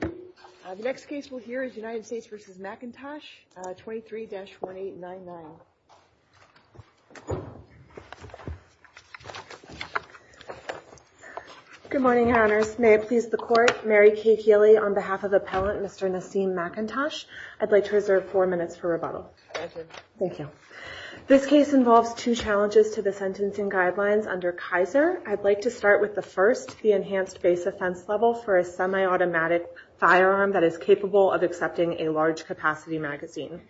The next case we'll hear is United States v. McIntosh, 23-1899. Good morning, Your Honors. May it please the Court, Mary Kay Healy on behalf of Appellant Mr. Nassim McIntosh. I'd like to reserve four minutes for rebuttal. Thank you. This case involves two challenges to the sentencing guidelines under Kaiser. I'd like to start with the first, the enhanced base offense level for a semi-automatic firearm that is capable of accepting a large capacity magazine.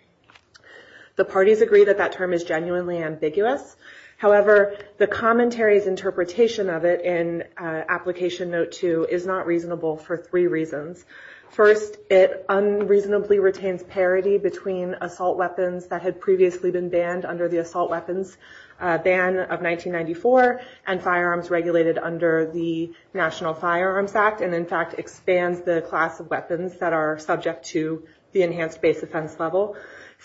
The parties agree that that term is genuinely ambiguous. However, the commentary's interpretation of it in Application Note 2 is not reasonable for three reasons. First, it unreasonably retains parity between assault weapons that had previously been banned under the Assault Weapons Ban of 1994 and firearms regulated under the National Firearms Act and, in fact, expands the class of weapons that are subject to the enhanced base offense level.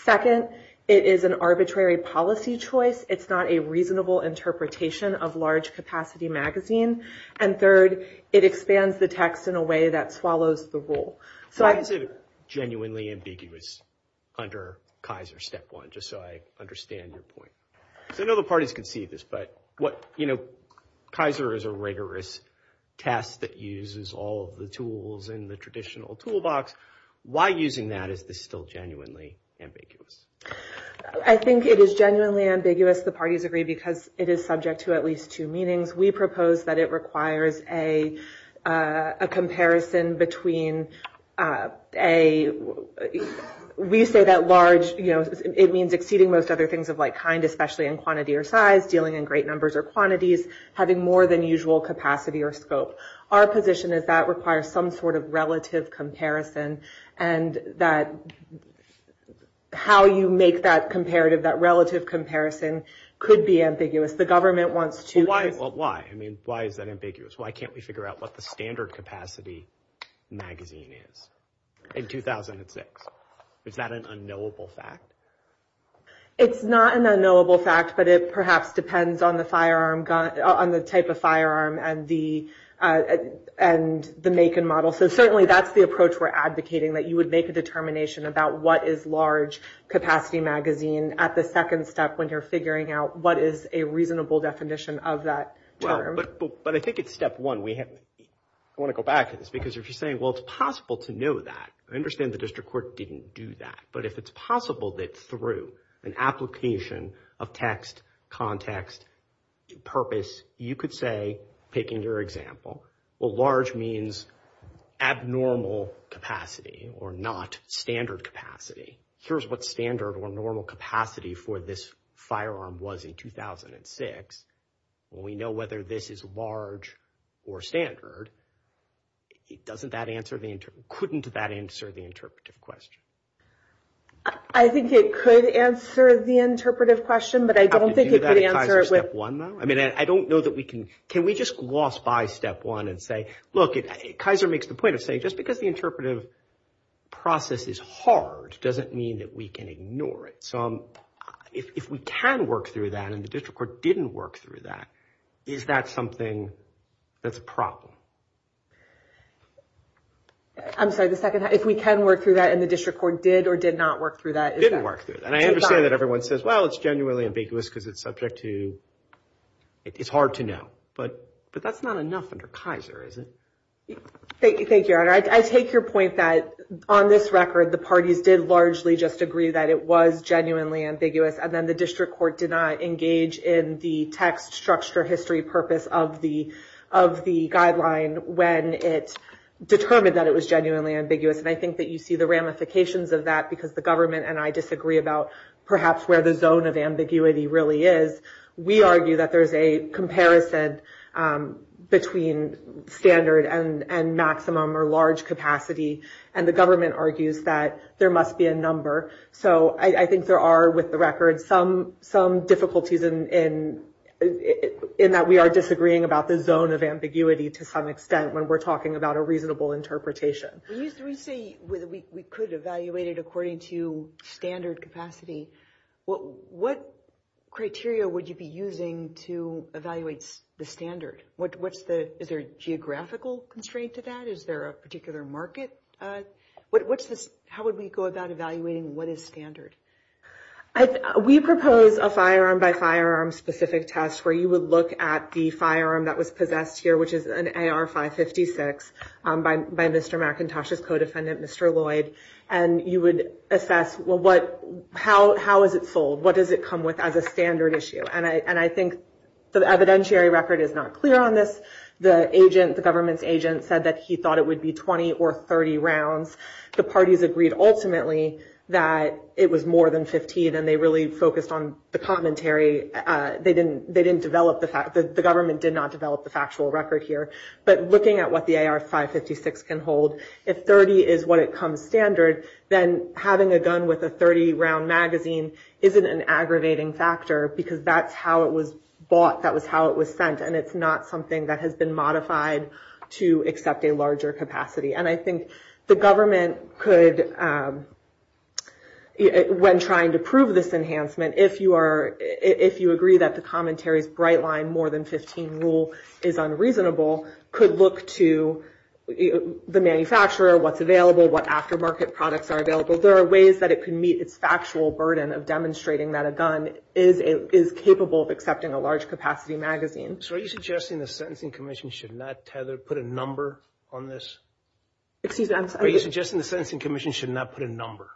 Second, it is an arbitrary policy choice. It's not a reasonable interpretation of large capacity magazine. And third, it expands the text in a way that swallows the rule. Why is it genuinely ambiguous under Kaiser Step 1, just so I understand your point? I know the parties can see this, but Kaiser is a rigorous test that uses all of the tools in the traditional toolbox. Why, using that, is this still genuinely ambiguous? I think it is genuinely ambiguous, the parties agree, because it is subject to at least two meanings. We propose that it requires a comparison between a, we say that large, you know, it means exceeding most other things of like kind, especially in quantity or size, dealing in great numbers or quantities, having more than usual capacity or scope. Our position is that requires some sort of relative comparison, and that how you make that comparative, that relative comparison, could be ambiguous. Why is that ambiguous? Why can't we figure out what the standard capacity magazine is in 2006? Is that an unknowable fact? It's not an unknowable fact, but it perhaps depends on the firearm, on the type of firearm and the make and model. So certainly that's the approach we're advocating, that you would make a determination about what is large capacity magazine at the second step when you're figuring out what is a reasonable definition of that term. But I think it's step one. I want to go back to this, because if you're saying, well, it's possible to know that, I understand the district court didn't do that, but if it's possible that through an application of text, context, purpose, you could say, taking your example, well, large means abnormal capacity or not standard capacity. Here's what standard or normal capacity for this firearm was in 2006. We know whether this is large or standard. Doesn't that answer the, couldn't that answer the interpretive question? I think it could answer the interpretive question, but I don't think it could answer it. I mean, I don't know that we can, can we just gloss by step one and say, look, Kaiser makes the point of saying just because the interpretive process is hard, doesn't mean that we can ignore it. So if we can work through that and the district court didn't work through that, is that something that's a problem? I'm sorry, the second, if we can work through that and the district court did or did not work through that. Didn't work through that. And I understand that everyone says, well, it's genuinely ambiguous because it's subject to, it's hard to know, but that's not enough under Kaiser, is it? Thank you. I take your point that on this record, the parties did largely just agree that it was genuinely ambiguous. And then the district court did not engage in the text structure history purpose of the, of the guideline when it determined that it was genuinely ambiguous. And I think that you see the ramifications of that because the government and I disagree about perhaps where the zone of ambiguity really is. We argue that there's a comparison between standard and maximum or large capacity. And the government argues that there must be a number. So I think there are, with the record, some difficulties in that we are disagreeing about the zone of ambiguity to some extent when we're talking about a reasonable interpretation. When you say we could evaluate it according to standard capacity, what criteria would you be using to evaluate the standard? What's the, is there a geographical constraint to that? Is there a particular market? What's the, how would we go about evaluating what is standard? We propose a firearm by firearm specific test where you would look at the firearm that was possessed here, which is an AR-556 by Mr. McIntosh's co-defendant, Mr. Lloyd. And you would assess, well, what, how is it sold? What does it come with as a standard issue? And I think the evidentiary record is not clear on this. The agent, the government's agent said that he thought it would be 20 or 30 rounds. The parties agreed ultimately that it was more than 15, and they really focused on the commentary. They didn't develop the fact, the government did not develop the factual record here. But looking at what the AR-556 can hold, if 30 is what it comes standard, then having a gun with a 30-round magazine isn't an aggravating factor because that's how it was bought, that was how it was sent, and it's not something that has been modified to accept a larger capacity. And I think the government could, when trying to prove this enhancement, if you agree that the commentary's bright line, more than 15 rule, is unreasonable, could look to the manufacturer, what's available, what aftermarket products are available. There are ways that it could meet its factual burden of demonstrating that a gun is capable of accepting a large capacity magazine. So are you suggesting the Sentencing Commission should not put a number on this? Excuse me? Are you suggesting the Sentencing Commission should not put a number?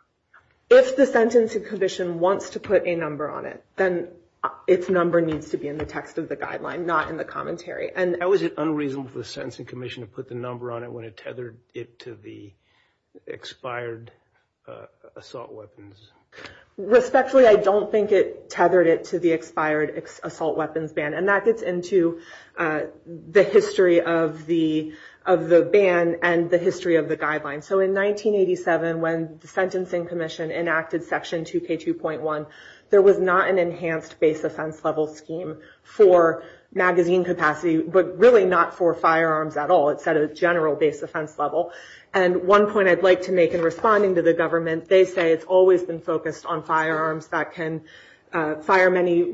If the Sentencing Commission wants to put a number on it, then its number needs to be in the text of the guideline, not in the commentary. How is it unreasonable for the Sentencing Commission to put the number on it when it tethered it to the expired assault weapons? Respectfully, I don't think it tethered it to the expired assault weapons ban, and that gets into the history of the ban and the history of the guideline. So in 1987, when the Sentencing Commission enacted Section 2K2.1, there was not an enhanced base offense level scheme for magazine capacity, but really not for firearms at all. It's at a general base offense level. And one point I'd like to make in responding to the government, they say it's always been focused on firearms that can fire many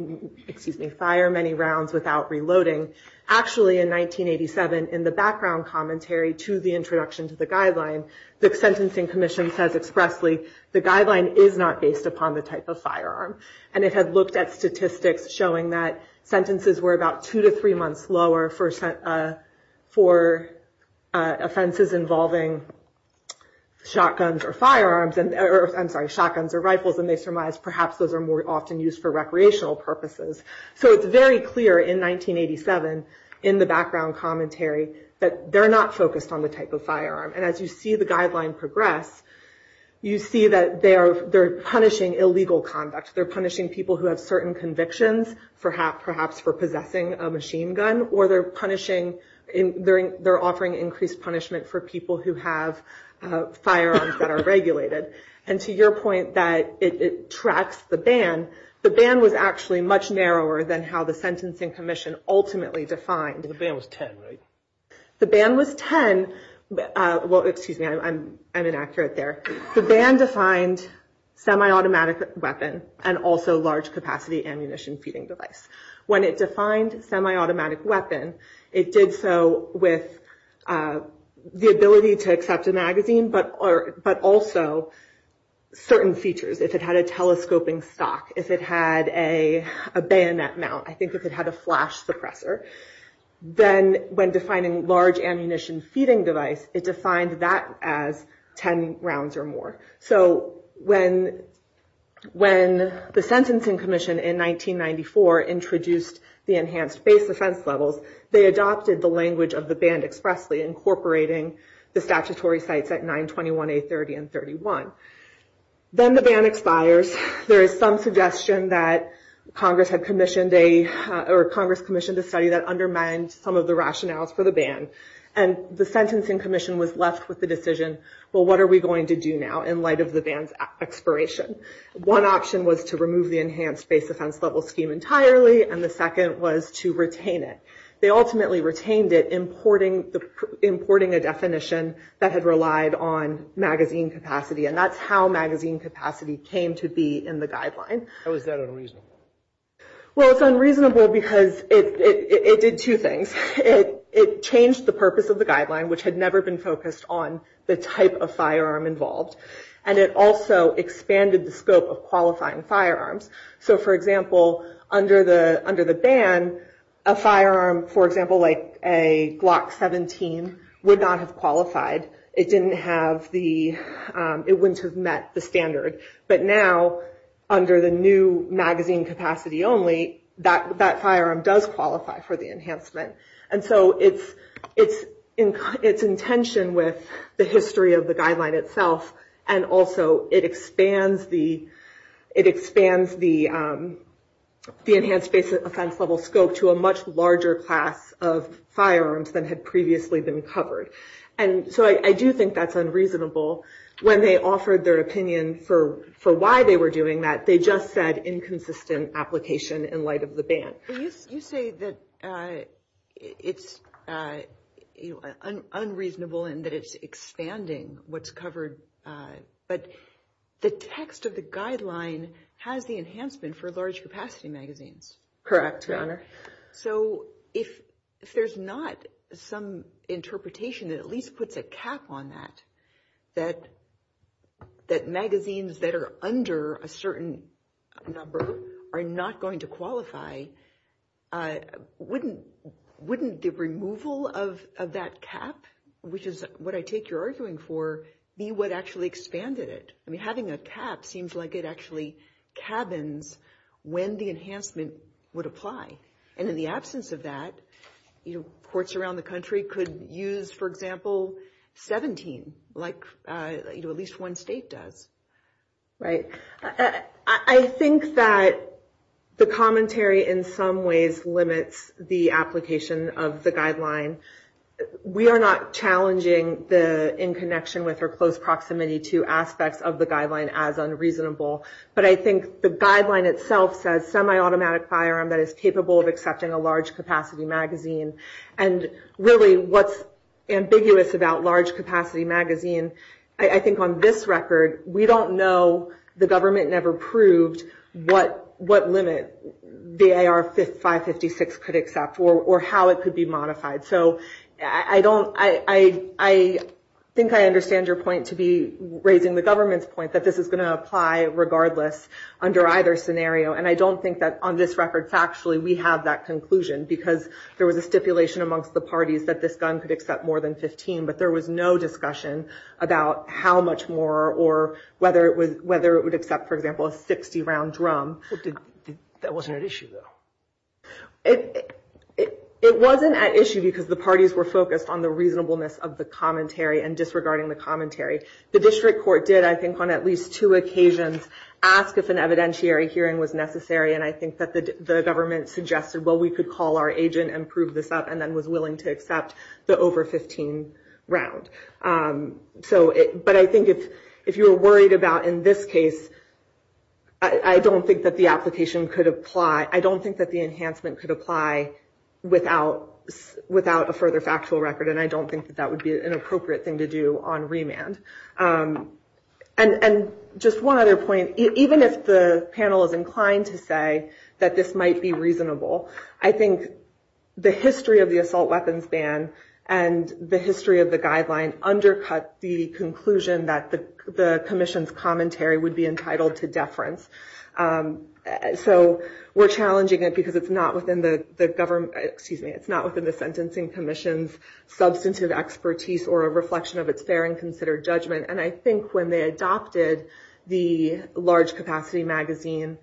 rounds without reloading. Actually, in 1987, in the background commentary to the introduction to the guideline, the Sentencing Commission says expressly, the guideline is not based upon the type of firearm. And it had looked at statistics showing that sentences were about two to three months lower for offenses involving shotguns or rifles, and they surmised perhaps those are more often used for recreational purposes. So it's very clear in 1987 in the background commentary that they're not focused on the type of firearm. And as you see the guideline progress, you see that they're punishing illegal conduct. They're punishing people who have certain convictions, perhaps for possessing a machine gun, or they're offering increased punishment for people who have firearms that are regulated. And to your point that it tracks the ban, the ban was actually much narrower than how the Sentencing Commission ultimately defined. The ban was 10, right? The ban was 10. Well, excuse me, I'm inaccurate there. The ban defined semi-automatic weapon and also large capacity ammunition feeding device. When it defined semi-automatic weapon, it did so with the ability to accept a magazine, but also certain features. If it had a telescoping stock, if it had a bayonet mount, I think if it had a flash suppressor, then when defining large ammunition feeding device, it defined that as 10 rounds or more. So when the Sentencing Commission in 1994 introduced the enhanced base offense levels, they adopted the language of the ban expressly, incorporating the statutory sites at 921, 830, and 31. Then the ban expires. There is some suggestion that Congress had commissioned a study that undermined some of the rationales for the ban. And the Sentencing Commission was left with the decision, well, what are we going to do now in light of the ban's expiration? One option was to remove the enhanced base offense level scheme entirely, and the second was to retain it. They ultimately retained it, importing a definition that had relied on magazine capacity, and that's how magazine capacity came to be in the guideline. How is that unreasonable? Well, it's unreasonable because it did two things. It changed the purpose of the guideline, which had never been focused on the type of firearm involved, and it also expanded the scope of qualifying firearms. So, for example, under the ban, a firearm, for example, like a Glock 17, would not have qualified. It wouldn't have met the standard. But now, under the new magazine capacity only, that firearm does qualify for the enhancement. And so it's in tension with the history of the guideline itself, and also it expands the enhanced base offense level scope to a much larger class of firearms than had previously been covered. And so I do think that's unreasonable. When they offered their opinion for why they were doing that, they just said inconsistent application in light of the ban. You say that it's unreasonable and that it's expanding what's covered, but the text of the guideline has the enhancement for large capacity magazines. Correct, Your Honor. So if there's not some interpretation that at least puts a cap on that, that magazines that are under a certain number are not going to qualify, wouldn't the removal of that cap, which is what I take you're arguing for, be what actually expanded it? I mean, having a cap seems like it actually cabins when the enhancement would apply. And in the absence of that, courts around the country could use, for example, 17, like at least one state does. Right. I think that the commentary in some ways limits the application of the guideline. We are not challenging the in connection with or close proximity to aspects of the guideline as unreasonable, but I think the guideline itself says semi-automatic firearm that is capable of accepting a large capacity magazine. And really what's ambiguous about large capacity magazine, I think on this record, we don't know, the government never proved, what limit the AR 556 could accept or how it could be modified. So I think I understand your point to be raising the government's point that this is going to apply regardless under either scenario. And I don't think that on this record factually we have that conclusion, because there was a stipulation amongst the parties that this gun could accept more than 15, but there was no discussion about how much more or whether it would accept, for example, a 60-round drum. That wasn't at issue, though. It wasn't at issue because the parties were focused on the reasonableness of the commentary and disregarding the commentary. The district court did, I think, on at least two occasions, ask if an evidentiary hearing was necessary, and I think that the government suggested, well, we could call our agent and prove this up, and then was willing to accept the over 15 round. But I think if you were worried about in this case, I don't think that the application could apply. I don't think that the enhancement could apply without a further factual record, and I don't think that that would be an appropriate thing to do on remand. And just one other point, even if the panel is inclined to say that this might be reasonable, I think the history of the assault weapons ban and the history of the guideline undercut the conclusion that the commission's commentary would be entitled to deference. So we're challenging it because it's not within the government, excuse me, it's not within the sentencing commission's substantive expertise or a reflection of its fair and considered judgment, and I think when they adopted the large capacity magazine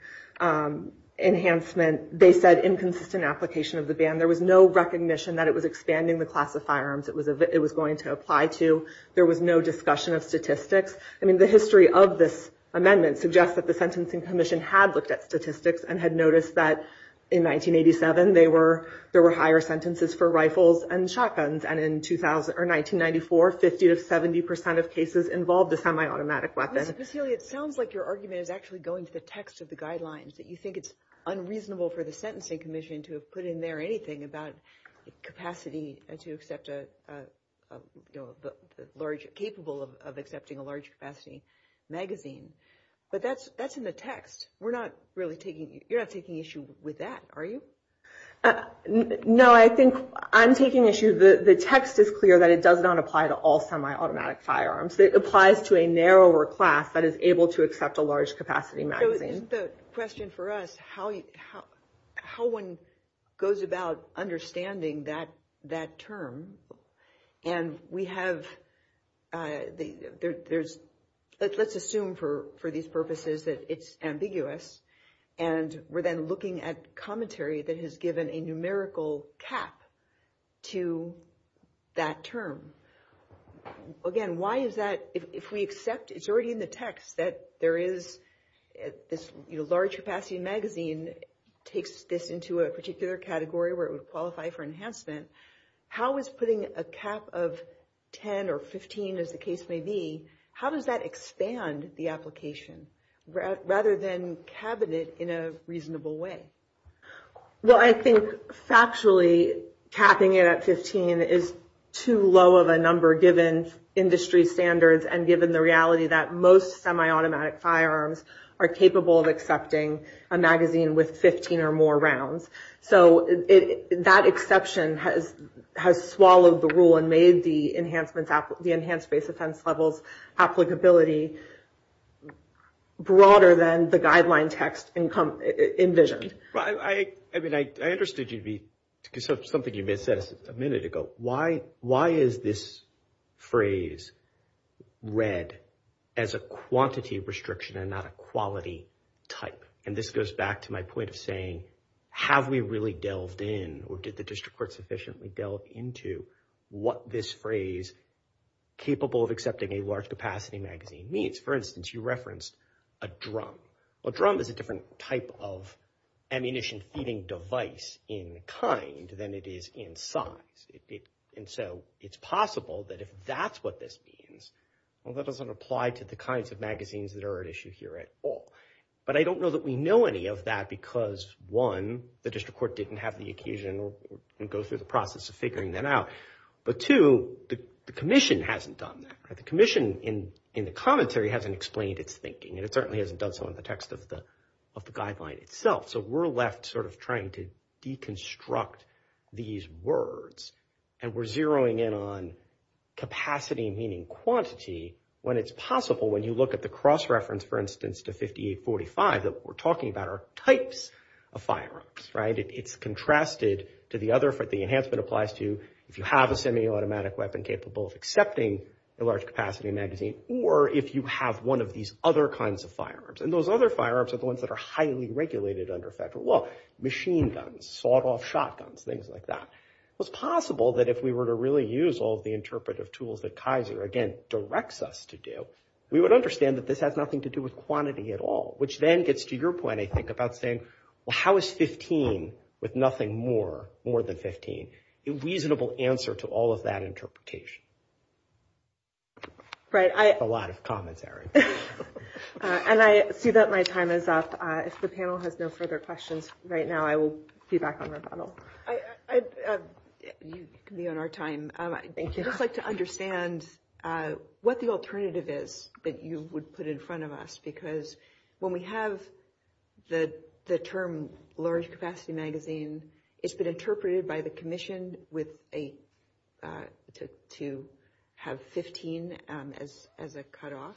enhancement, they said inconsistent application of the ban. There was no recognition that it was expanding the class of firearms it was going to apply to. There was no discussion of statistics. I mean, the history of this amendment suggests that the sentencing commission had looked at statistics and had noticed that in 1987 there were higher sentences for rifles and shotguns, and in 1994, 50 to 70 percent of cases involved a semi-automatic weapon. Ms. Basile, it sounds like your argument is actually going to the text of the guidelines, that you think it's unreasonable for the sentencing commission to have put in there anything about capacity and to accept a large, capable of accepting a large capacity magazine. But that's in the text. You're not taking issue with that, are you? No, I think I'm taking issue. The text is clear that it does not apply to all semi-automatic firearms. It applies to a narrower class that is able to accept a large capacity magazine. So the question for us, how one goes about understanding that term, and we have, let's assume for these purposes that it's ambiguous, and we're then looking at commentary that has given a numerical cap to that term. Again, why is that? If we accept it's already in the text that there is this large capacity magazine takes this into a particular category where it would qualify for enhancement, how is putting a cap of 10 or 15, as the case may be, how does that expand the application rather than cabinet in a reasonable way? Well, I think factually capping it at 15 is too low of a number given industry standards and given the reality that most semi-automatic firearms are capable of accepting a magazine with 15 or more rounds. So that exception has swallowed the rule and made the enhanced base offense levels applicability broader than the guideline text envisioned. I mean, I understood something you may have said a minute ago. Why is this phrase read as a quantity restriction and not a quality type? And this goes back to my point of saying, have we really delved in or did the district court sufficiently delve into what this phrase capable of accepting a large capacity magazine means? For instance, you referenced a drum. A drum is a different type of ammunition feeding device in kind than it is in size. And so it's possible that if that's what this means, well, that doesn't apply to the kinds of magazines that are at issue here at all. But I don't know that we know any of that because, one, the district court didn't have the occasion to go through the process of figuring that out. But two, the commission hasn't done that. The commission in the commentary hasn't explained its thinking, and it certainly hasn't done so in the text of the guideline itself. So we're left sort of trying to deconstruct these words, and we're zeroing in on capacity meaning quantity when it's possible, when you look at the cross-reference, for instance, to 5845, that we're talking about are types of firearms. It's contrasted to the other for the enhancement applies to if you have a semi-automatic weapon capable of accepting a large-capacity magazine or if you have one of these other kinds of firearms. And those other firearms are the ones that are highly regulated under federal law, machine guns, sawed-off shotguns, things like that. It's possible that if we were to really use all the interpretive tools that Kaiser, again, directs us to do, we would understand that this has nothing to do with quantity at all, which then gets to your point, I think, about saying, well, how is 15 with nothing more, more than 15, a reasonable answer to all of that interpretation? A lot of comments, Eric. And I see that my time is up. If the panel has no further questions right now, I will be back on rebuttal. You can be on our time. Thank you. I'd just like to understand what the alternative is that you would put in front of us, because when we have the term large-capacity magazine, it's been interpreted by the commission to have 15 as a cutoff.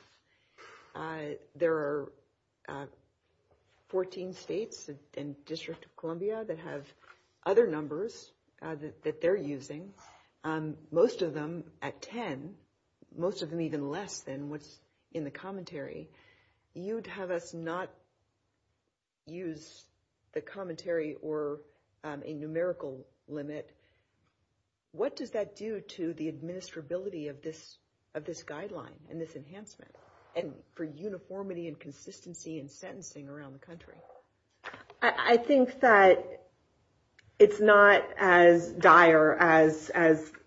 There are 14 states and District of Columbia that have other numbers that they're using, most of them at 10, most of them even less than what's in the commentary. You'd have us not use the commentary or a numerical limit. What does that do to the administrability of this guideline and this enhancement and for uniformity and consistency in sentencing around the country? I think that it's not as dire as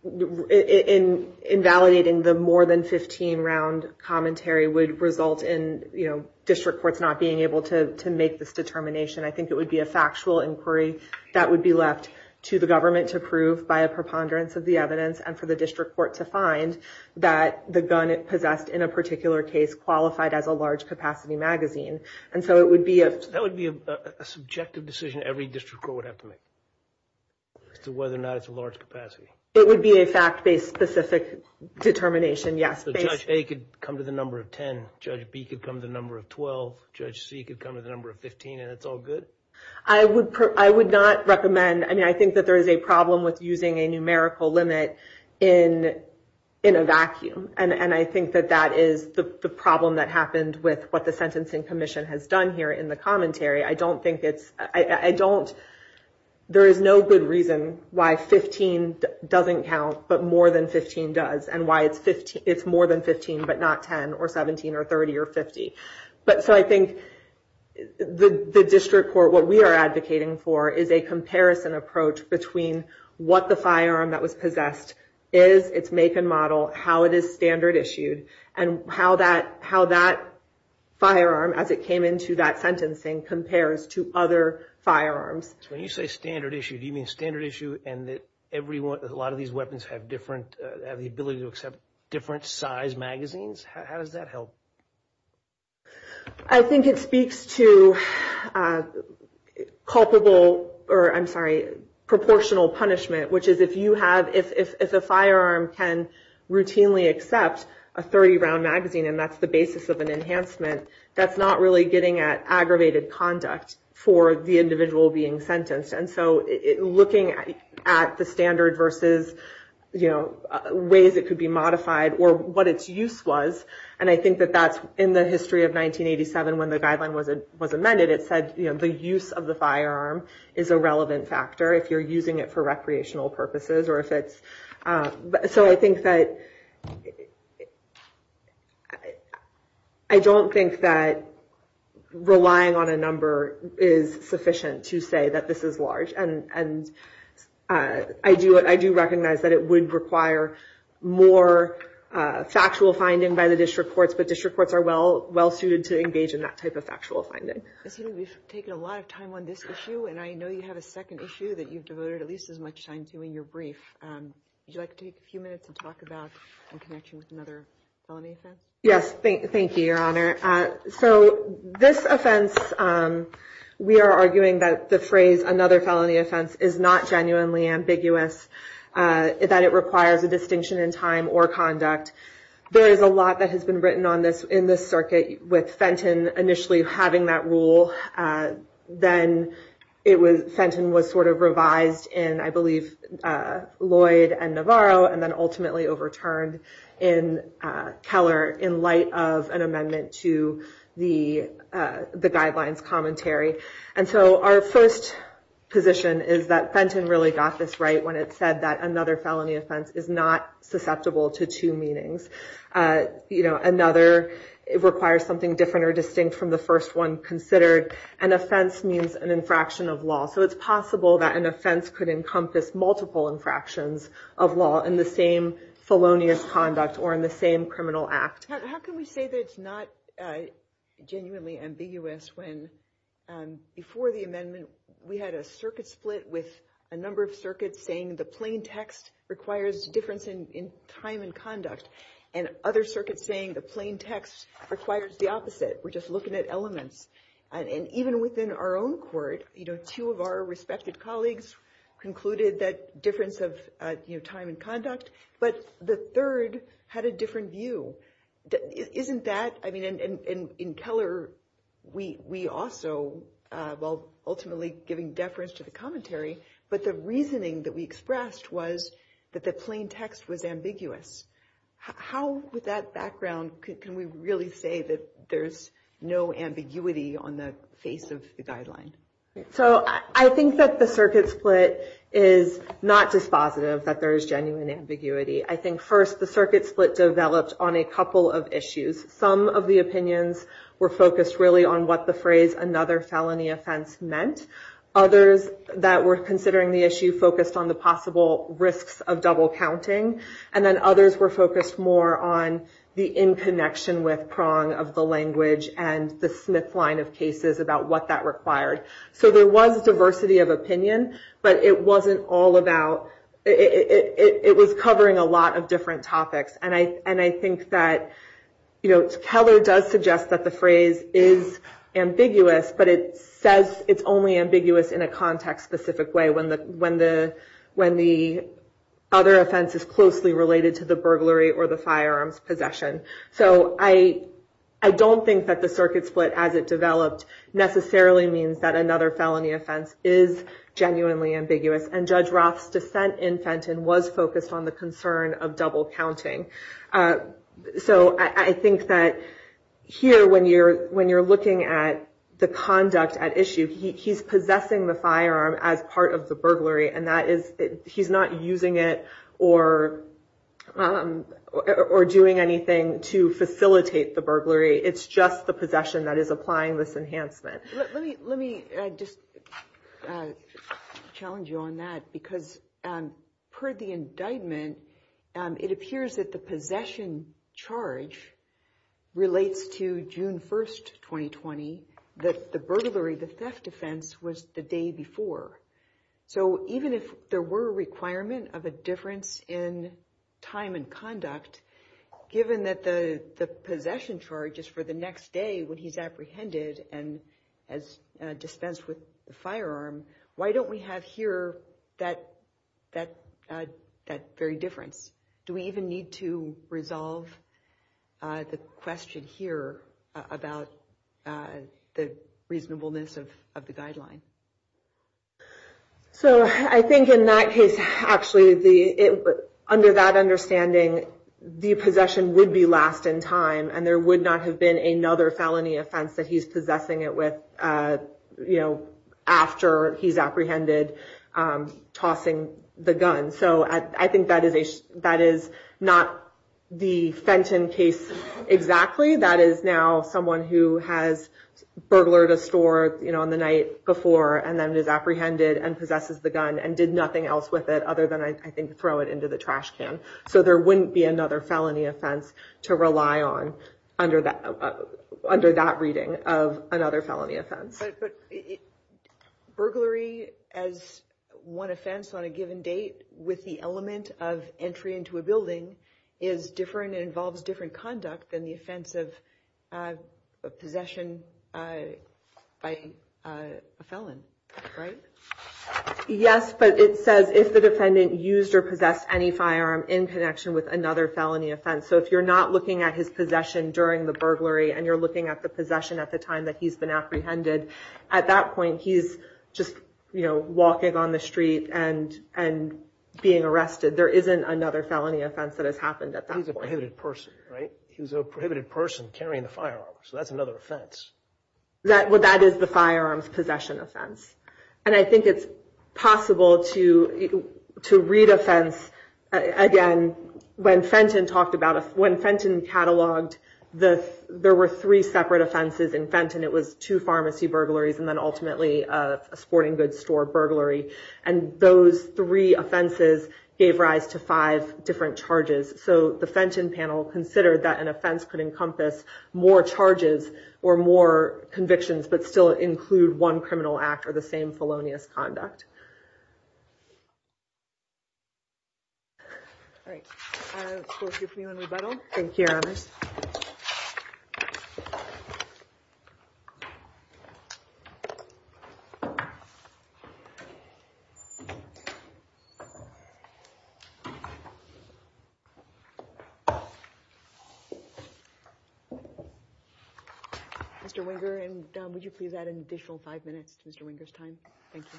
invalidating the more than 15-round commentary would result in district courts not being able to make this determination. I think it would be a factual inquiry that would be left to the government to prove by a preponderance of the evidence and for the district court to find that the gun possessed in a particular case qualified as a large-capacity magazine. That would be a subjective decision every district court would have to make as to whether or not it's a large-capacity. It would be a fact-based, specific determination, yes. So Judge A could come to the number of 10, Judge B could come to the number of 12, Judge C could come to the number of 15, and it's all good? I would not recommend. I mean, I think that there is a problem with using a numerical limit in a vacuum, and I think that that is the problem that happened with what the Sentencing Commission has done here in the commentary. I don't think it's – I don't – there is no good reason why 15 doesn't count but more than 15 does and why it's more than 15 but not 10 or 17 or 30 or 50. So I think the district court, what we are advocating for, is a comparison approach between what the firearm that was possessed is, its make and model, how it is standard-issued, and how that firearm, as it came into that sentencing, compares to other firearms. So when you say standard-issued, do you mean standard-issued and that a lot of these weapons have different – have the ability to accept different size magazines? How does that help? I think it speaks to culpable – or I'm sorry, proportional punishment, which is if you have – if a firearm can routinely accept a 30-round magazine and that's the basis of an enhancement, that's not really getting at aggravated conduct for the individual being sentenced. And so looking at the standard versus ways it could be modified or what its use was, and I think that that's in the history of 1987 when the guideline was amended. It said the use of the firearm is a relevant factor if you're using it for recreational purposes or if it's – so I think that I don't think that relying on a number is sufficient to say that this is large. And I do recognize that it would require more factual finding by the district courts, but district courts are well-suited to engage in that type of factual finding. Ms. Healy, we've taken a lot of time on this issue, and I know you have a second issue that you've devoted at least as much time to in your brief. Would you like to take a few minutes and talk about in connection with another felony offense? Yes, thank you, Your Honor. So this offense, we are arguing that the phrase another felony offense is not genuinely ambiguous, that it requires a distinction in time or conduct. There is a lot that has been written in this circuit with Fenton initially having that rule. Then Fenton was sort of revised in, I believe, Lloyd and Navarro, and then ultimately overturned in Keller in light of an amendment to the guidelines commentary. And so our first position is that Fenton really got this right when it said that another felony offense is not susceptible to two meanings. You know, another requires something different or distinct from the first one considered. An offense means an infraction of law, so it's possible that an offense could encompass multiple infractions of law in the same felonious conduct or in the same criminal act. How can we say that it's not genuinely ambiguous when before the amendment we had a circuit split with a number of circuits saying the plain text requires a difference in time and conduct and other circuits saying the plain text requires the opposite? We're just looking at elements. And even within our own court, you know, two of our respected colleagues concluded that difference of, you know, time and conduct, but the third had a different view. Isn't that, I mean, in Keller, we also, while ultimately giving deference to the commentary, but the reasoning that we expressed was that the plain text was ambiguous. How, with that background, can we really say that there's no ambiguity on the face of the guideline? So I think that the circuit split is not dispositive that there is genuine ambiguity. I think, first, the circuit split developed on a couple of issues. Some of the opinions were focused really on what the phrase another felony offense meant. Others that were considering the issue focused on the possible risks of double counting. And then others were focused more on the in connection with prong of the language and the Smith line of cases about what that required. So there was diversity of opinion, but it wasn't all about, it was covering a lot of different topics. And I think that, you know, Keller does suggest that the phrase is ambiguous, but it says it's only ambiguous in a context-specific way when the other offense is closely related to the burglary or the firearms possession. So I don't think that the circuit split, as it developed, necessarily means that another felony offense is genuinely ambiguous. And Judge Roth's dissent in Fenton was focused on the concern of double counting. So I think that here, when you're looking at the conduct at issue, he's possessing the firearm as part of the burglary. And he's not using it or doing anything to facilitate the burglary. It's just the possession that is applying this enhancement. Let me just challenge you on that, because per the indictment, it appears that the possession charge relates to June 1st, 2020, that the burglary, the theft offense, was the day before. So even if there were a requirement of a difference in time and conduct, given that the possession charge is for the next day when he's apprehended and dispensed with the firearm, why don't we have here that very difference? Do we even need to resolve the question here about the reasonableness of the guideline? So I think in that case, actually, under that understanding, the possession would be last in time. And there would not have been another felony offense that he's possessing it with after he's apprehended, tossing the gun. So I think that is not the Fenton case exactly. Exactly, that is now someone who has burglared a store on the night before and then is apprehended and possesses the gun and did nothing else with it other than, I think, throw it into the trash can. So there wouldn't be another felony offense to rely on under that reading of another felony offense. But burglary as one offense on a given date with the element of entry into a building is different and involves different conduct than the offense of possession by a felon, right? Yes, but it says if the defendant used or possessed any firearm in connection with another felony offense. So if you're not looking at his possession during the burglary and you're looking at the possession at the time that he's been apprehended, at that point he's just walking on the street and being arrested. There isn't another felony offense that has happened at that point. He's a prohibited person, right? He's a prohibited person carrying a firearm. So that's another offense. That is the firearms possession offense. And I think it's possible to read offense. Again, when Fenton cataloged, there were three separate offenses in Fenton. It was two pharmacy burglaries and then ultimately a sporting goods store burglary. And those three offenses gave rise to five different charges. So the Fenton panel considered that an offense could encompass more charges or more convictions but still include one criminal act or the same felonious conduct. All right. I'll give you a rebuttal. Thank you. Thank you, Your Honors. Mr. Wenger, would you please add an additional five minutes to Mr. Wenger's time? Thank you.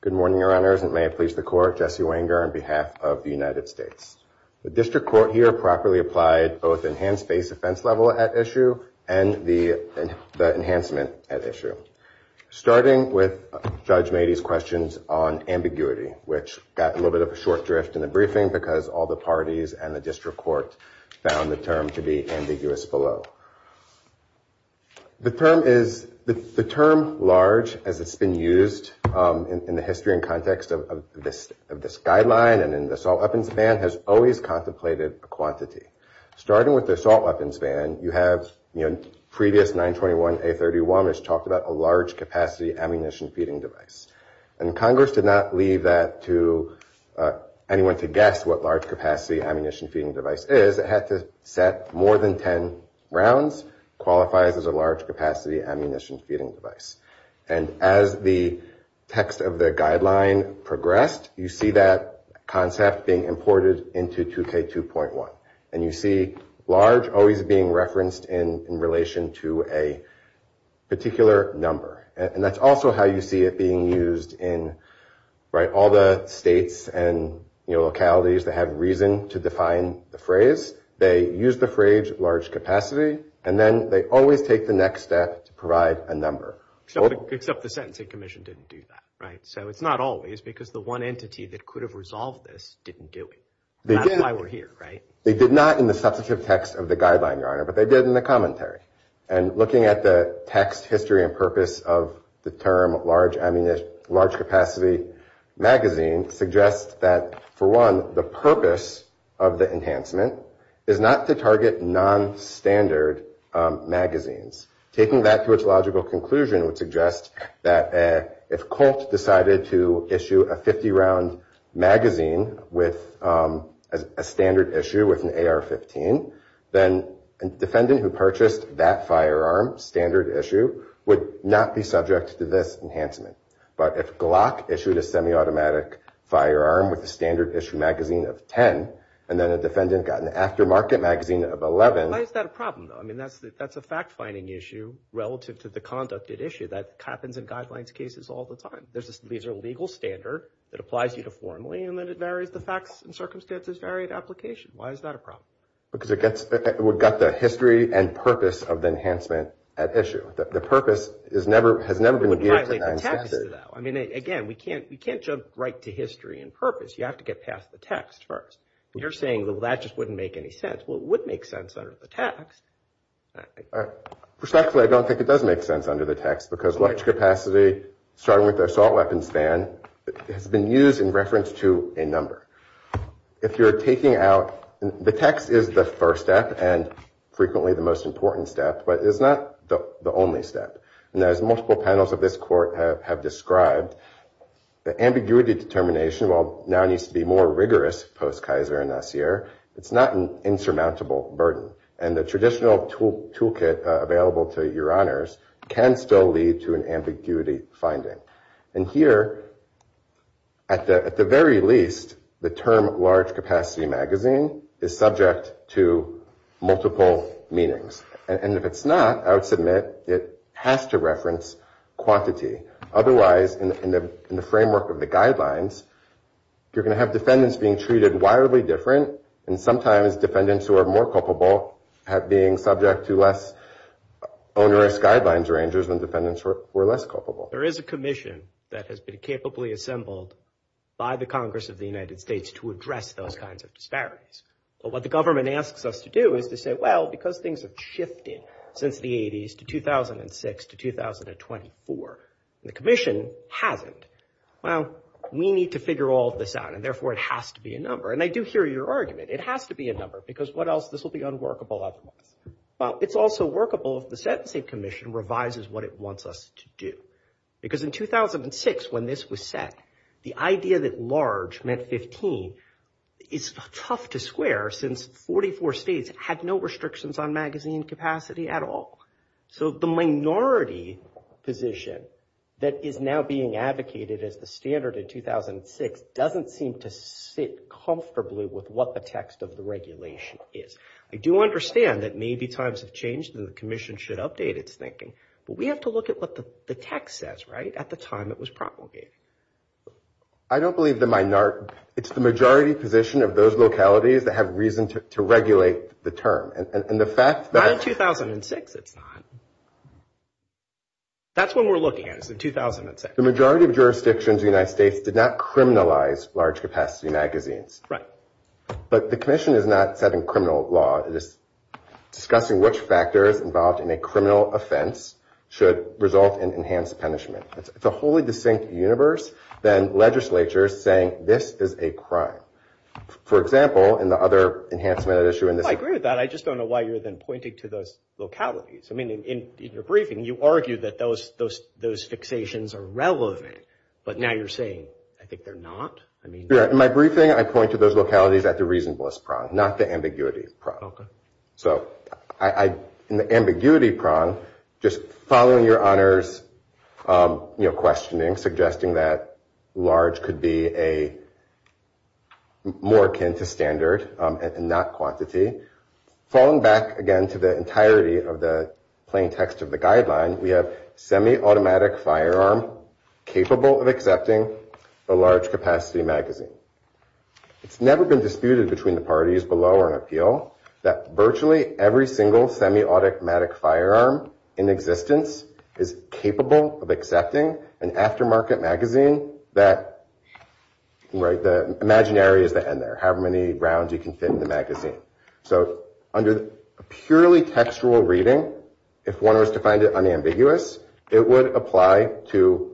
Good morning, Your Honors. And may it please the Court, Jesse Wenger on behalf of the United States. The district court here properly applied both enhanced base offense level at issue and the enhancement at issue. Starting with Judge Mady's questions on ambiguity, which got a little bit of a short drift in the briefing because all the parties and the district court found the term to be ambiguous below. The term large, as it's been used in the history and context of this guideline and in the assault weapons ban has always contemplated a quantity. Starting with the assault weapons ban, you have previous 921A31, which talked about a large capacity ammunition feeding device. And Congress did not leave that to anyone to guess what large capacity ammunition feeding device is. It had to set more than ten rounds, qualifies as a large capacity ammunition feeding device. And as the text of the guideline progressed, you see that concept being imported into 2K2.1. And you see large always being referenced in relation to a particular number. And that's also how you see it being used in all the states and localities that have reason to define the phrase. They use the phrase large capacity and then they always take the next step to provide a number. Except the sentencing commission didn't do that, right? So it's not always because the one entity that could have resolved this didn't do it. That's why we're here, right? They did not in the substantive text of the guideline, Your Honor, but they did in the commentary. And looking at the text history and purpose of the term large capacity magazine suggests that, for one, the purpose of the enhancement is not to target nonstandard magazines. Taking that to its logical conclusion would suggest that if Colt decided to issue a 50-round magazine with a standard issue with an AR-15, then a defendant who purchased that firearm, standard issue, would not be subject to this enhancement. But if Glock issued a semi-automatic firearm with a standard issue magazine of 10, and then a defendant got an aftermarket magazine of 11. Why is that a problem, though? I mean, that's a fact-finding issue relative to the conducted issue. That happens in guidelines cases all the time. These are legal standard that applies uniformly, and then it varies the facts and circumstances, varied application. Why is that a problem? Because it would gut the history and purpose of the enhancement at issue. The purpose has never been geared to nonstandard. It would violate the text, though. I mean, again, we can't jump right to history and purpose. You have to get past the text first. You're saying, well, that just wouldn't make any sense. Well, it would make sense under the text. Perspectively, I don't think it does make sense under the text because large capacity, starting with the assault weapons ban, has been used in reference to a number. If you're taking out – the text is the first step and frequently the most important step, but it's not the only step. And as multiple panels of this court have described, the ambiguity determination, while now needs to be more rigorous post-Kaiser and Nassir, it's not an insurmountable burden. And the traditional toolkit available to your honors can still lead to an ambiguity finding. And here, at the very least, the term large capacity magazine is subject to multiple meanings. And if it's not, I would submit it has to reference quantity. Otherwise, in the framework of the guidelines, you're going to have defendants being treated wildly different, and sometimes defendants who are more culpable being subject to less onerous guidelines or injuries when defendants were less culpable. There is a commission that has been capably assembled by the Congress of the United States to address those kinds of disparities. But what the government asks us to do is to say, well, because things have shifted since the 80s to 2006 to 2024, and the commission hasn't, well, we need to figure all of this out, and therefore it has to be a number. And I do hear your argument. It has to be a number, because what else? This will be unworkable otherwise. Well, it's also workable if the sentencing commission revises what it wants us to do. Because in 2006 when this was set, the idea that large meant 15 is tough to square since 44 states had no restrictions on magazine capacity at all. So the minority position that is now being advocated as the standard in 2006 doesn't seem to sit comfortably with what the text of the regulation is. I do understand that maybe times have changed and the commission should update its thinking, but we have to look at what the text says, right, at the time it was promulgated. I don't believe the minority – it's the majority position of those localities that have reason to regulate the term. And the fact that – Not in 2006 it's not. That's what we're looking at is in 2006. The majority of jurisdictions in the United States did not criminalize large capacity magazines. Right. But the commission is not setting criminal law. Discussing which factors involved in a criminal offense should result in enhanced punishment. It's a wholly distinct universe than legislatures saying this is a crime. For example, in the other enhancement issue in this – I agree with that. I just don't know why you're then pointing to those localities. I mean, in your briefing you argue that those fixations are relevant, but now you're saying I think they're not. In my briefing I point to those localities at the reasonableness prong, not the ambiguity prong. Okay. So in the ambiguity prong, just following your honors questioning, suggesting that large could be a – more akin to standard and not quantity. Falling back again to the entirety of the plain text of the guideline, we have semi-automatic firearm capable of accepting a large capacity magazine. It's never been disputed between the parties below or in appeal that virtually every single semi-automatic firearm in existence is capable of accepting an aftermarket magazine that – right. The imaginary is the end there, however many rounds you can fit in the magazine. So under a purely textual reading, if one was to find it unambiguous, it would apply to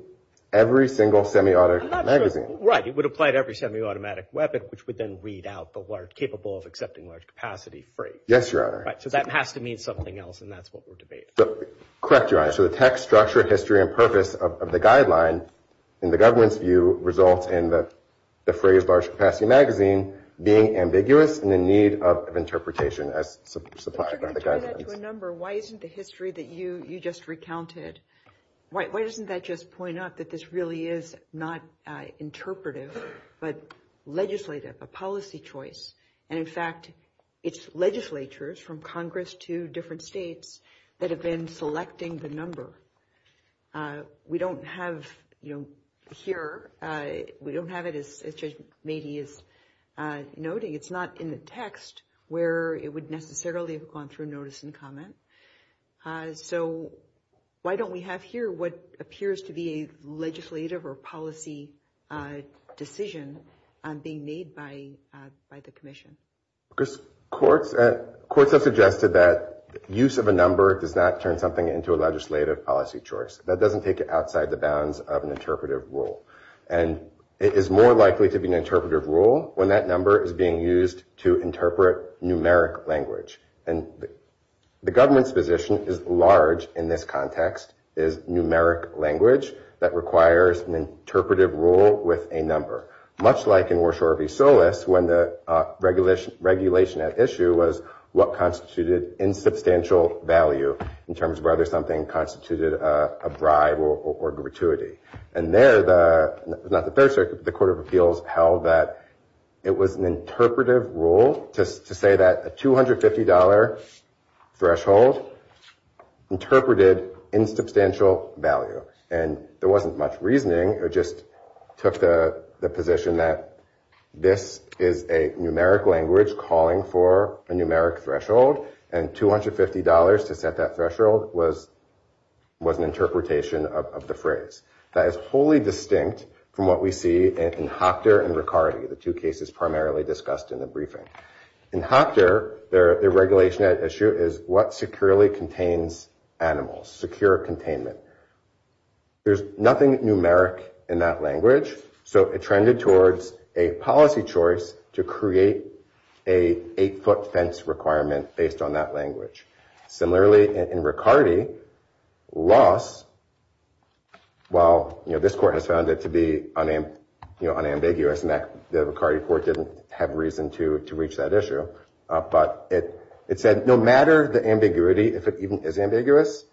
every single semi-automatic magazine. Right. It would apply to every semi-automatic weapon, which would then read out the large capable of accepting large capacity free. Yes, Your Honor. Right. So that has to mean something else, and that's what we're debating. Correct, Your Honor. So the text, structure, history, and purpose of the guideline in the government's view result in the phrase large capacity magazine being ambiguous and in need of interpretation as supplied by the guidelines. I'm trying to tie that to a number. Why isn't the history that you just recounted – why doesn't that just point out that this really is not interpretive, but legislative, a policy choice? And, in fact, it's legislatures from Congress to different states that have been selecting the number. We don't have it here. We don't have it as Judge Meade is noting. It's not in the text where it would necessarily have gone through notice and comment. So why don't we have here what appears to be a legislative or policy decision being made by the commission? Because courts have suggested that use of a number does not turn something into a legislative policy choice. That doesn't take it outside the bounds of an interpretive rule. And it is more likely to be an interpretive rule when that number is being used to interpret numeric language. And the government's position is large in this context, is numeric language that requires an interpretive rule with a number, much like in Warshaw v. Solis when the regulation at issue was what constituted insubstantial value in terms of whether something constituted a bribe or gratuity. And there, not the Third Circuit, but the Court of Appeals held that it was an interpretive rule to say that a $250 threshold interpreted insubstantial value. And there wasn't much reasoning. It just took the position that this is a numeric language calling for a numeric threshold. And $250 to set that threshold was an interpretation of the phrase. That is wholly distinct from what we see in Hocter and Riccardi, the two cases primarily discussed in the briefing. In Hocter, their regulation at issue is what securely contains animals, secure containment. There's nothing numeric in that language, so it trended towards a policy choice to create an 8-foot fence requirement based on that language. Similarly, in Riccardi, loss, while this court has found it to be unambiguous and the Riccardi court didn't have reason to reach that issue, but it said no matter the ambiguity, if it even is ambiguous,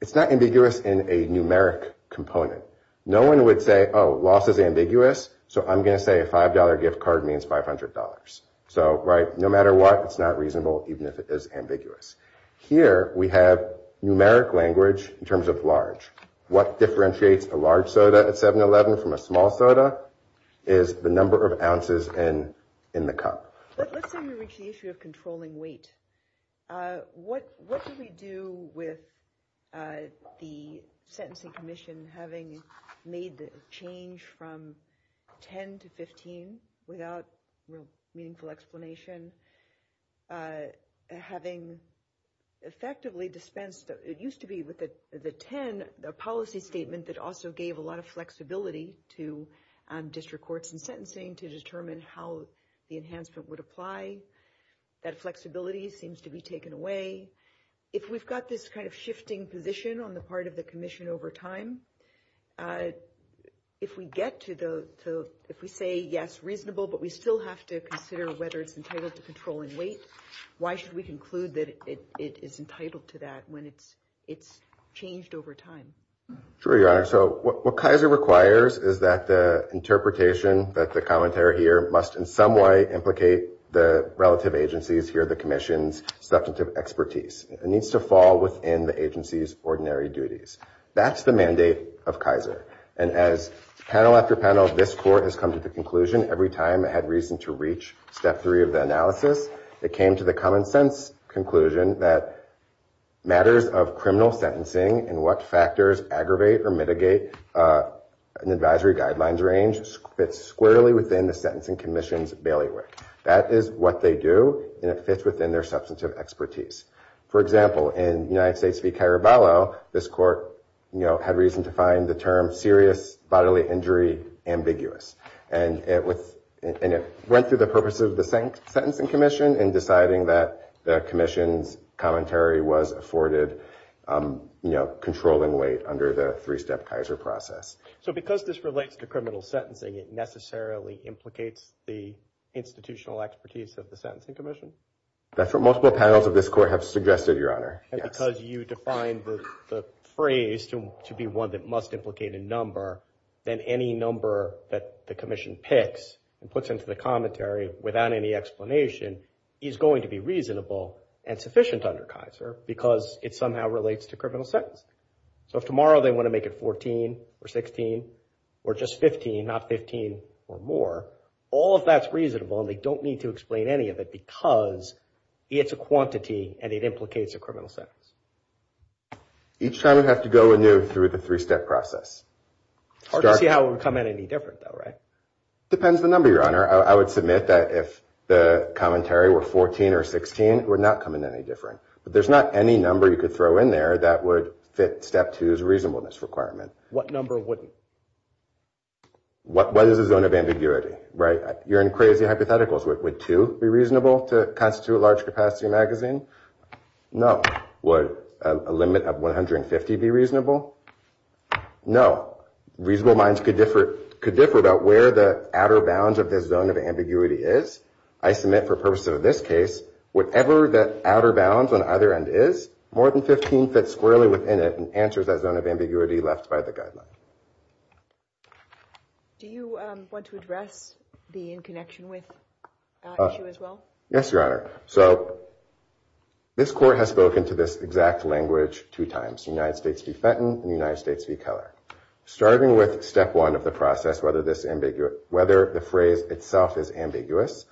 it's not ambiguous in a numeric component. No one would say, oh, loss is ambiguous, so I'm going to say a $5 gift card means $500. So, right, no matter what, it's not reasonable even if it is ambiguous. Here we have numeric language in terms of large. What differentiates a large soda at 7-Eleven from a small soda is the number of ounces in the cup. Let's say we reach the issue of controlling weight. What do we do with the sentencing commission having made the change from 10 to 15 without meaningful explanation, having effectively dispensed, it used to be with the 10, a policy statement that also gave a lot of flexibility to district courts in sentencing to determine how the enhancement would apply, that flexibility seems to be taken away. If we've got this kind of shifting position on the part of the commission over time, if we get to the, if we say yes, reasonable, but we still have to consider whether it's entitled to controlling weight, why should we conclude that it is entitled to that when it's changed over time? Sure, Your Honor. So what Kaiser requires is that the interpretation that the commentary here must in some way implicate the relative agency's, here the commission's, substantive expertise. It needs to fall within the agency's ordinary duties. That's the mandate of Kaiser. And as panel after panel, this court has come to the conclusion every time it had reason to reach step three of the analysis, it came to the common sense conclusion that matters of criminal sentencing and what factors aggravate or mitigate an advisory guidelines range fits squarely within the sentencing commission's bailiwick. That is what they do, and it fits within their substantive expertise. For example, in United States v. Caraballo, this court had reason to find the term serious bodily injury ambiguous. And it went through the purposes of the sentencing commission in deciding that the commission's commentary was afforded controlling weight under the three-step Kaiser process. So because this relates to criminal sentencing, it necessarily implicates the institutional expertise of the sentencing commission? That's what multiple panels of this court have suggested, Your Honor. And because you defined the phrase to be one that must implicate a number, then any number that the commission picks and puts into the commentary without any explanation is going to be reasonable and sufficient under Kaiser because it somehow relates to criminal sentence. So if tomorrow they want to make it 14 or 16 or just 15, not 15 or more, all of that's reasonable and they don't need to explain any of it because it's a quantity and it implicates a criminal sentence. Each time we have to go through the three-step process. Hard to see how it would come in any different though, right? Depends on the number, Your Honor. I would submit that if the commentary were 14 or 16, it would not come in any different. But there's not any number you could throw in there that would fit step two's reasonableness requirement. What number wouldn't? What is the zone of ambiguity, right? You're in crazy hypotheticals. Would two be reasonable to constitute a large capacity magazine? No. Would a limit of 150 be reasonable? No. Reasonable minds could differ about where the outer bounds of this zone of ambiguity is. I submit for purposes of this case, whatever that outer bounds on either end is, more than 15 fits squarely within it and answers that zone of ambiguity left by the guideline. Do you want to address the in connection with issue as well? Yes, Your Honor. So this court has spoken to this exact language two times, United States v. Fenton and United States v. Keller. Starting with step one of the process, whether the phrase itself is ambiguous,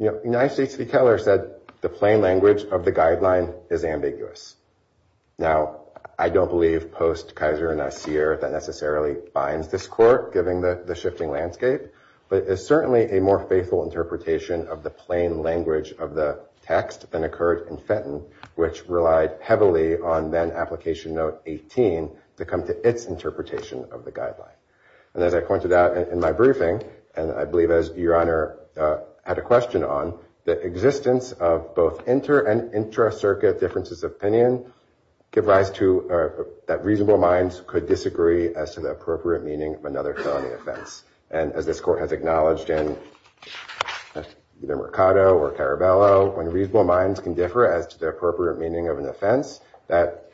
United States v. Keller said the plain language of the guideline is ambiguous. Now, I don't believe post-Kaiser and Nassir that necessarily binds this court, given the shifting landscape. But it's certainly a more faithful interpretation of the plain language of the text than occurred in Fenton, which relied heavily on then application note 18 to come to its interpretation of the guideline. And as I pointed out in my briefing, and I believe as Your Honor had a question on, the existence of both inter- and intra-circuit differences of opinion give rise to that reasonable minds could disagree as to the appropriate meaning of another felony offense. And as this court has acknowledged in either Mercado or Caraballo, when reasonable minds can differ as to the appropriate meaning of an offense, that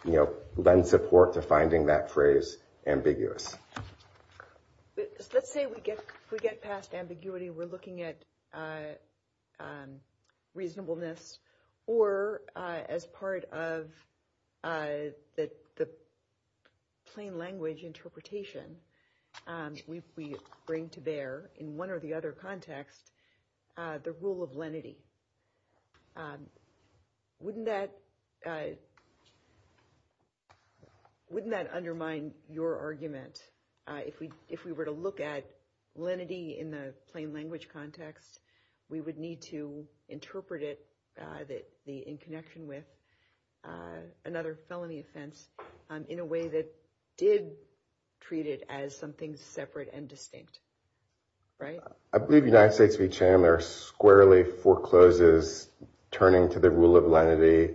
lends support to finding that phrase ambiguous. Let's say we get past ambiguity, we're looking at reasonableness, or as part of the plain language interpretation we bring to bear, in one or the other context, the rule of lenity. Wouldn't that undermine your argument? If we were to look at lenity in the plain language context, we would need to interpret it in connection with another felony offense in a way that did treat it as something separate and distinct, right? I believe United States v. Chandler squarely forecloses turning to the rule of lenity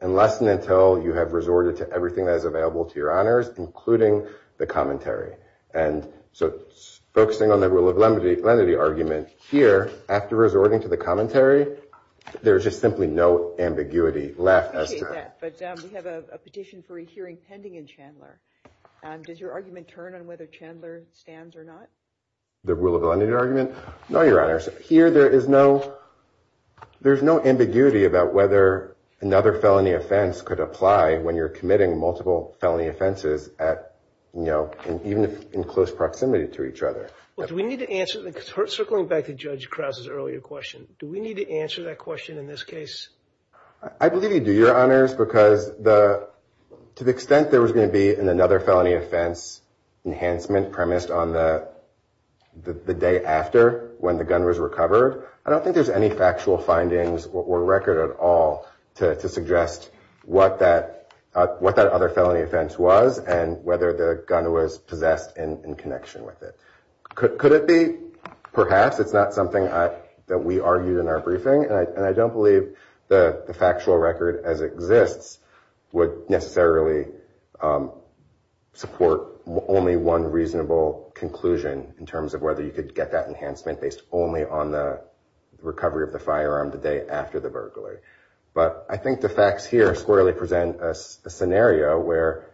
unless and until you have resorted to everything that is available to Your Honors, including the commentary. And so focusing on the rule of lenity argument here, after resorting to the commentary, there's just simply no ambiguity left. I appreciate that, but we have a petition for a hearing pending in Chandler. Does your argument turn on whether Chandler stands or not? The rule of lenity argument? Here there is no ambiguity about whether another felony offense could apply when you're committing multiple felony offenses even in close proximity to each other. Circling back to Judge Krause's earlier question, do we need to answer that question in this case? I believe you do, Your Honors, because to the extent there was going to be another felony offense enhancement premised on the day after when the gun was recovered, I don't think there's any factual findings or record at all to suggest what that other felony offense was and whether the gun was possessed in connection with it. Could it be? Perhaps. It's not something that we argued in our briefing, and I don't believe the factual record as it exists would necessarily support only one reasonable conclusion in terms of whether you could get that enhancement based only on the recovery of the firearm the day after the burglary. But I think the facts here squarely present a scenario where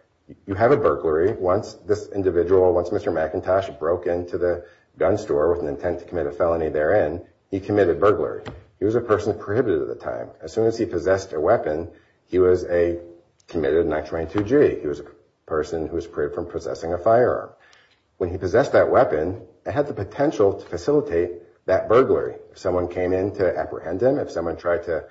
you have a burglary. Once this individual, once Mr. McIntosh broke into the gun store with an intent to commit a felony therein, he committed burglary. He was a person prohibited at the time. As soon as he possessed a weapon, he was a committed 922-G. He was a person who was prohibited from possessing a firearm. When he possessed that weapon, it had the potential to facilitate that burglary. If someone came in to apprehend him, if someone tried to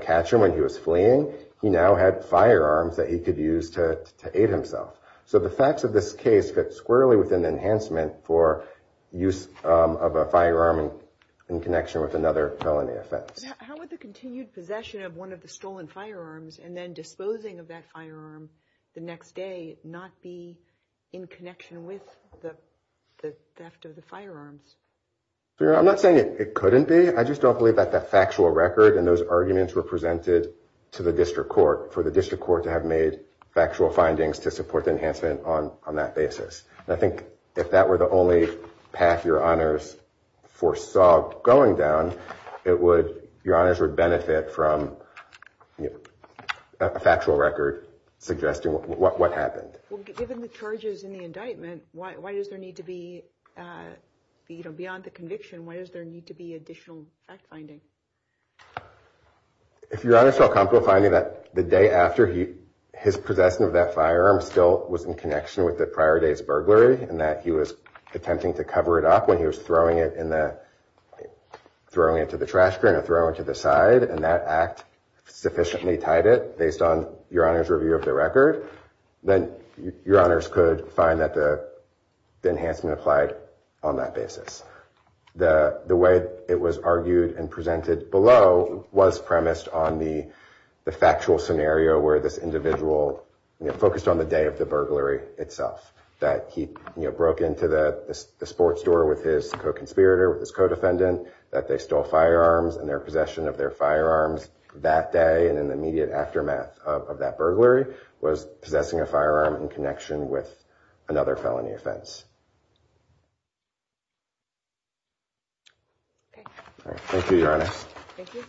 catch him when he was fleeing, he now had firearms that he could use to aid himself. So the facts of this case fit squarely with an enhancement for use of a firearm in connection with another felony offense. How would the continued possession of one of the stolen firearms and then disposing of that firearm the next day not be in connection with the theft of the firearms? I'm not saying it couldn't be. I just don't believe that the factual record and those arguments were presented to the district court for the district court to have made factual findings to support the enhancement on that basis. I think if that were the only path your honors foresaw going down, your honors would benefit from a factual record suggesting what happened. Given the charges in the indictment, why does there need to be, beyond the conviction, why does there need to be additional fact-finding? If your honors feel comfortable finding that the day after his possession of that firearm still was in connection with the prior day's burglary and that he was attempting to cover it up when he was throwing it to the trash can or throwing it to the side and that act sufficiently tied it based on your honors' review of the record, then your honors could find that the enhancement applied on that basis. The way it was argued and presented below was premised on the factual scenario where this individual focused on the day of the burglary itself, that he broke into the sports store with his co-conspirator, his co-defendant, that they stole firearms and their possession of their firearms that day and in the immediate aftermath of that burglary was possessing a firearm in connection with another felony offense. Thank you, your honors. Thank you.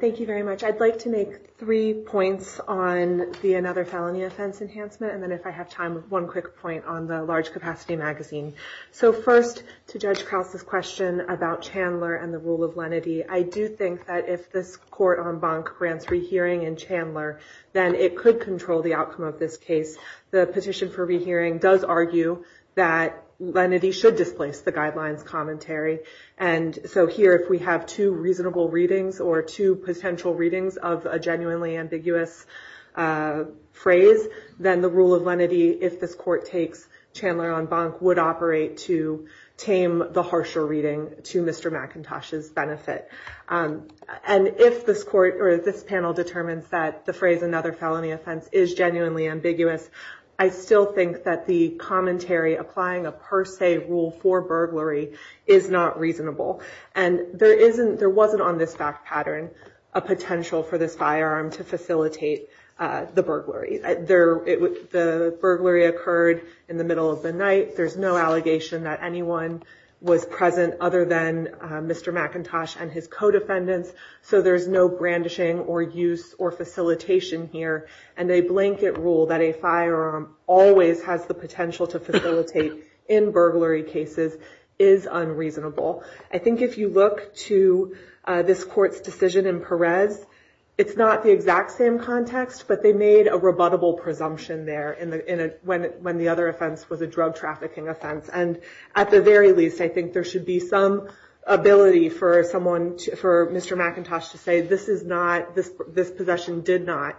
Thank you very much. I'd like to make three points on the another felony offense enhancement and then if I have time, one quick point on the large capacity magazine. First, to Judge Krause's question about Chandler and the rule of lenity, I do think that if this court en banc grants rehearing in Chandler, then it could control the outcome of this case. The petition for rehearing does argue that lenity should displace the guidelines commentary and so here if we have two reasonable readings or two potential readings of a genuinely ambiguous phrase, then the rule of lenity, if this court takes Chandler en banc, would operate to tame the harsher reading to Mr. McIntosh's benefit. And if this panel determines that the phrase another felony offense is genuinely ambiguous, I still think that the commentary applying a per se rule for burglary is not reasonable. And there wasn't on this fact pattern a potential for this firearm to facilitate the burglary. The burglary occurred in the middle of the night. There's no allegation that anyone was present other than Mr. McIntosh and his co-defendants, so there's no brandishing or use or facilitation here and a blanket rule that a firearm always has the potential to facilitate in burglary cases is unreasonable. I think if you look to this court's decision in Perez, it's not the exact same context, but they made a rebuttable presumption there when the other offense was a drug trafficking offense. And at the very least, I think there should be some ability for Mr. McIntosh to say this is not, this possession did not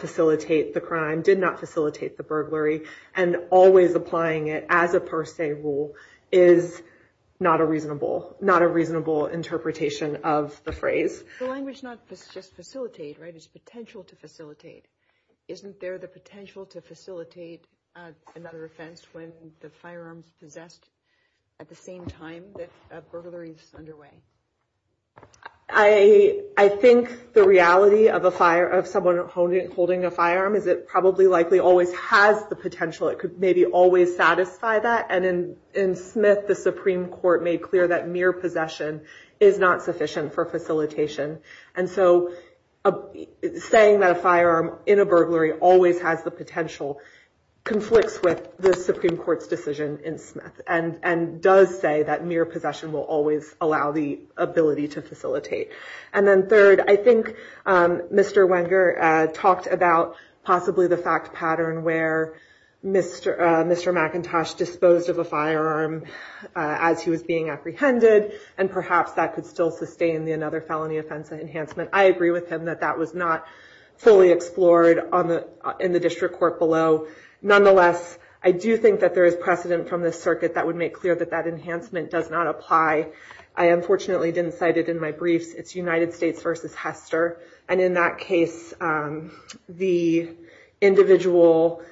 facilitate the crime, did not facilitate the burglary, and always applying it as a per se rule is not a reasonable interpretation of the phrase. The language is not just facilitate, right? It's potential to facilitate. Isn't there the potential to facilitate another offense when the firearm is I think the reality of someone holding a firearm is it probably likely always has the potential. It could maybe always satisfy that. And in Smith, the Supreme Court made clear that mere possession is not sufficient for facilitation. And so saying that a firearm in a burglary always has the potential conflicts with the Supreme Court's decision in Smith and does say that mere possession will always allow the ability to facilitate. And then third, I think Mr. Wenger talked about possibly the fact pattern where Mr. McIntosh disposed of a firearm as he was being apprehended, and perhaps that could still sustain another felony offense enhancement. I agree with him that that was not fully explored in the district court below. Nonetheless, I do think that there is precedent from the circuit that would make clear that that enhancement does not apply. I unfortunately didn't cite it in my briefs. It's United States versus Hester. And in that case, the individual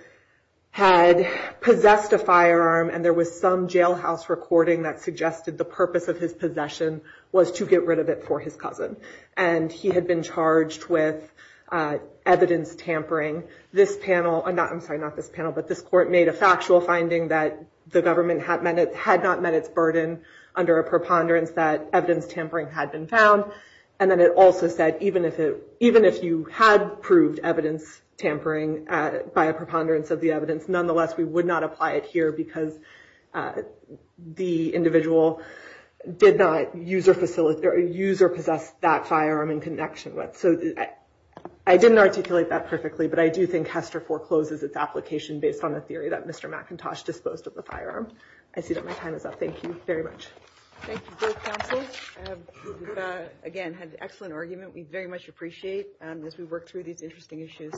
had possessed a firearm, and there was some jailhouse recording that suggested the purpose of his possession was to get rid of it for his cousin. And he had been charged with evidence tampering. I'm sorry, not this panel. But this court made a factual finding that the government had not met its burden under a preponderance that evidence tampering had been found. And then it also said even if you had proved evidence tampering by a preponderance of the evidence, nonetheless, we would not apply it here because the individual did not use or possess that firearm in connection with. I didn't articulate that perfectly, but I do think Hester forecloses its application based on the theory that Mr. McIntosh disposed of the firearm. I see that my time is up. Thank you very much. Thank you both counselors. Again, had an excellent argument. We very much appreciate as we work through these interesting issues.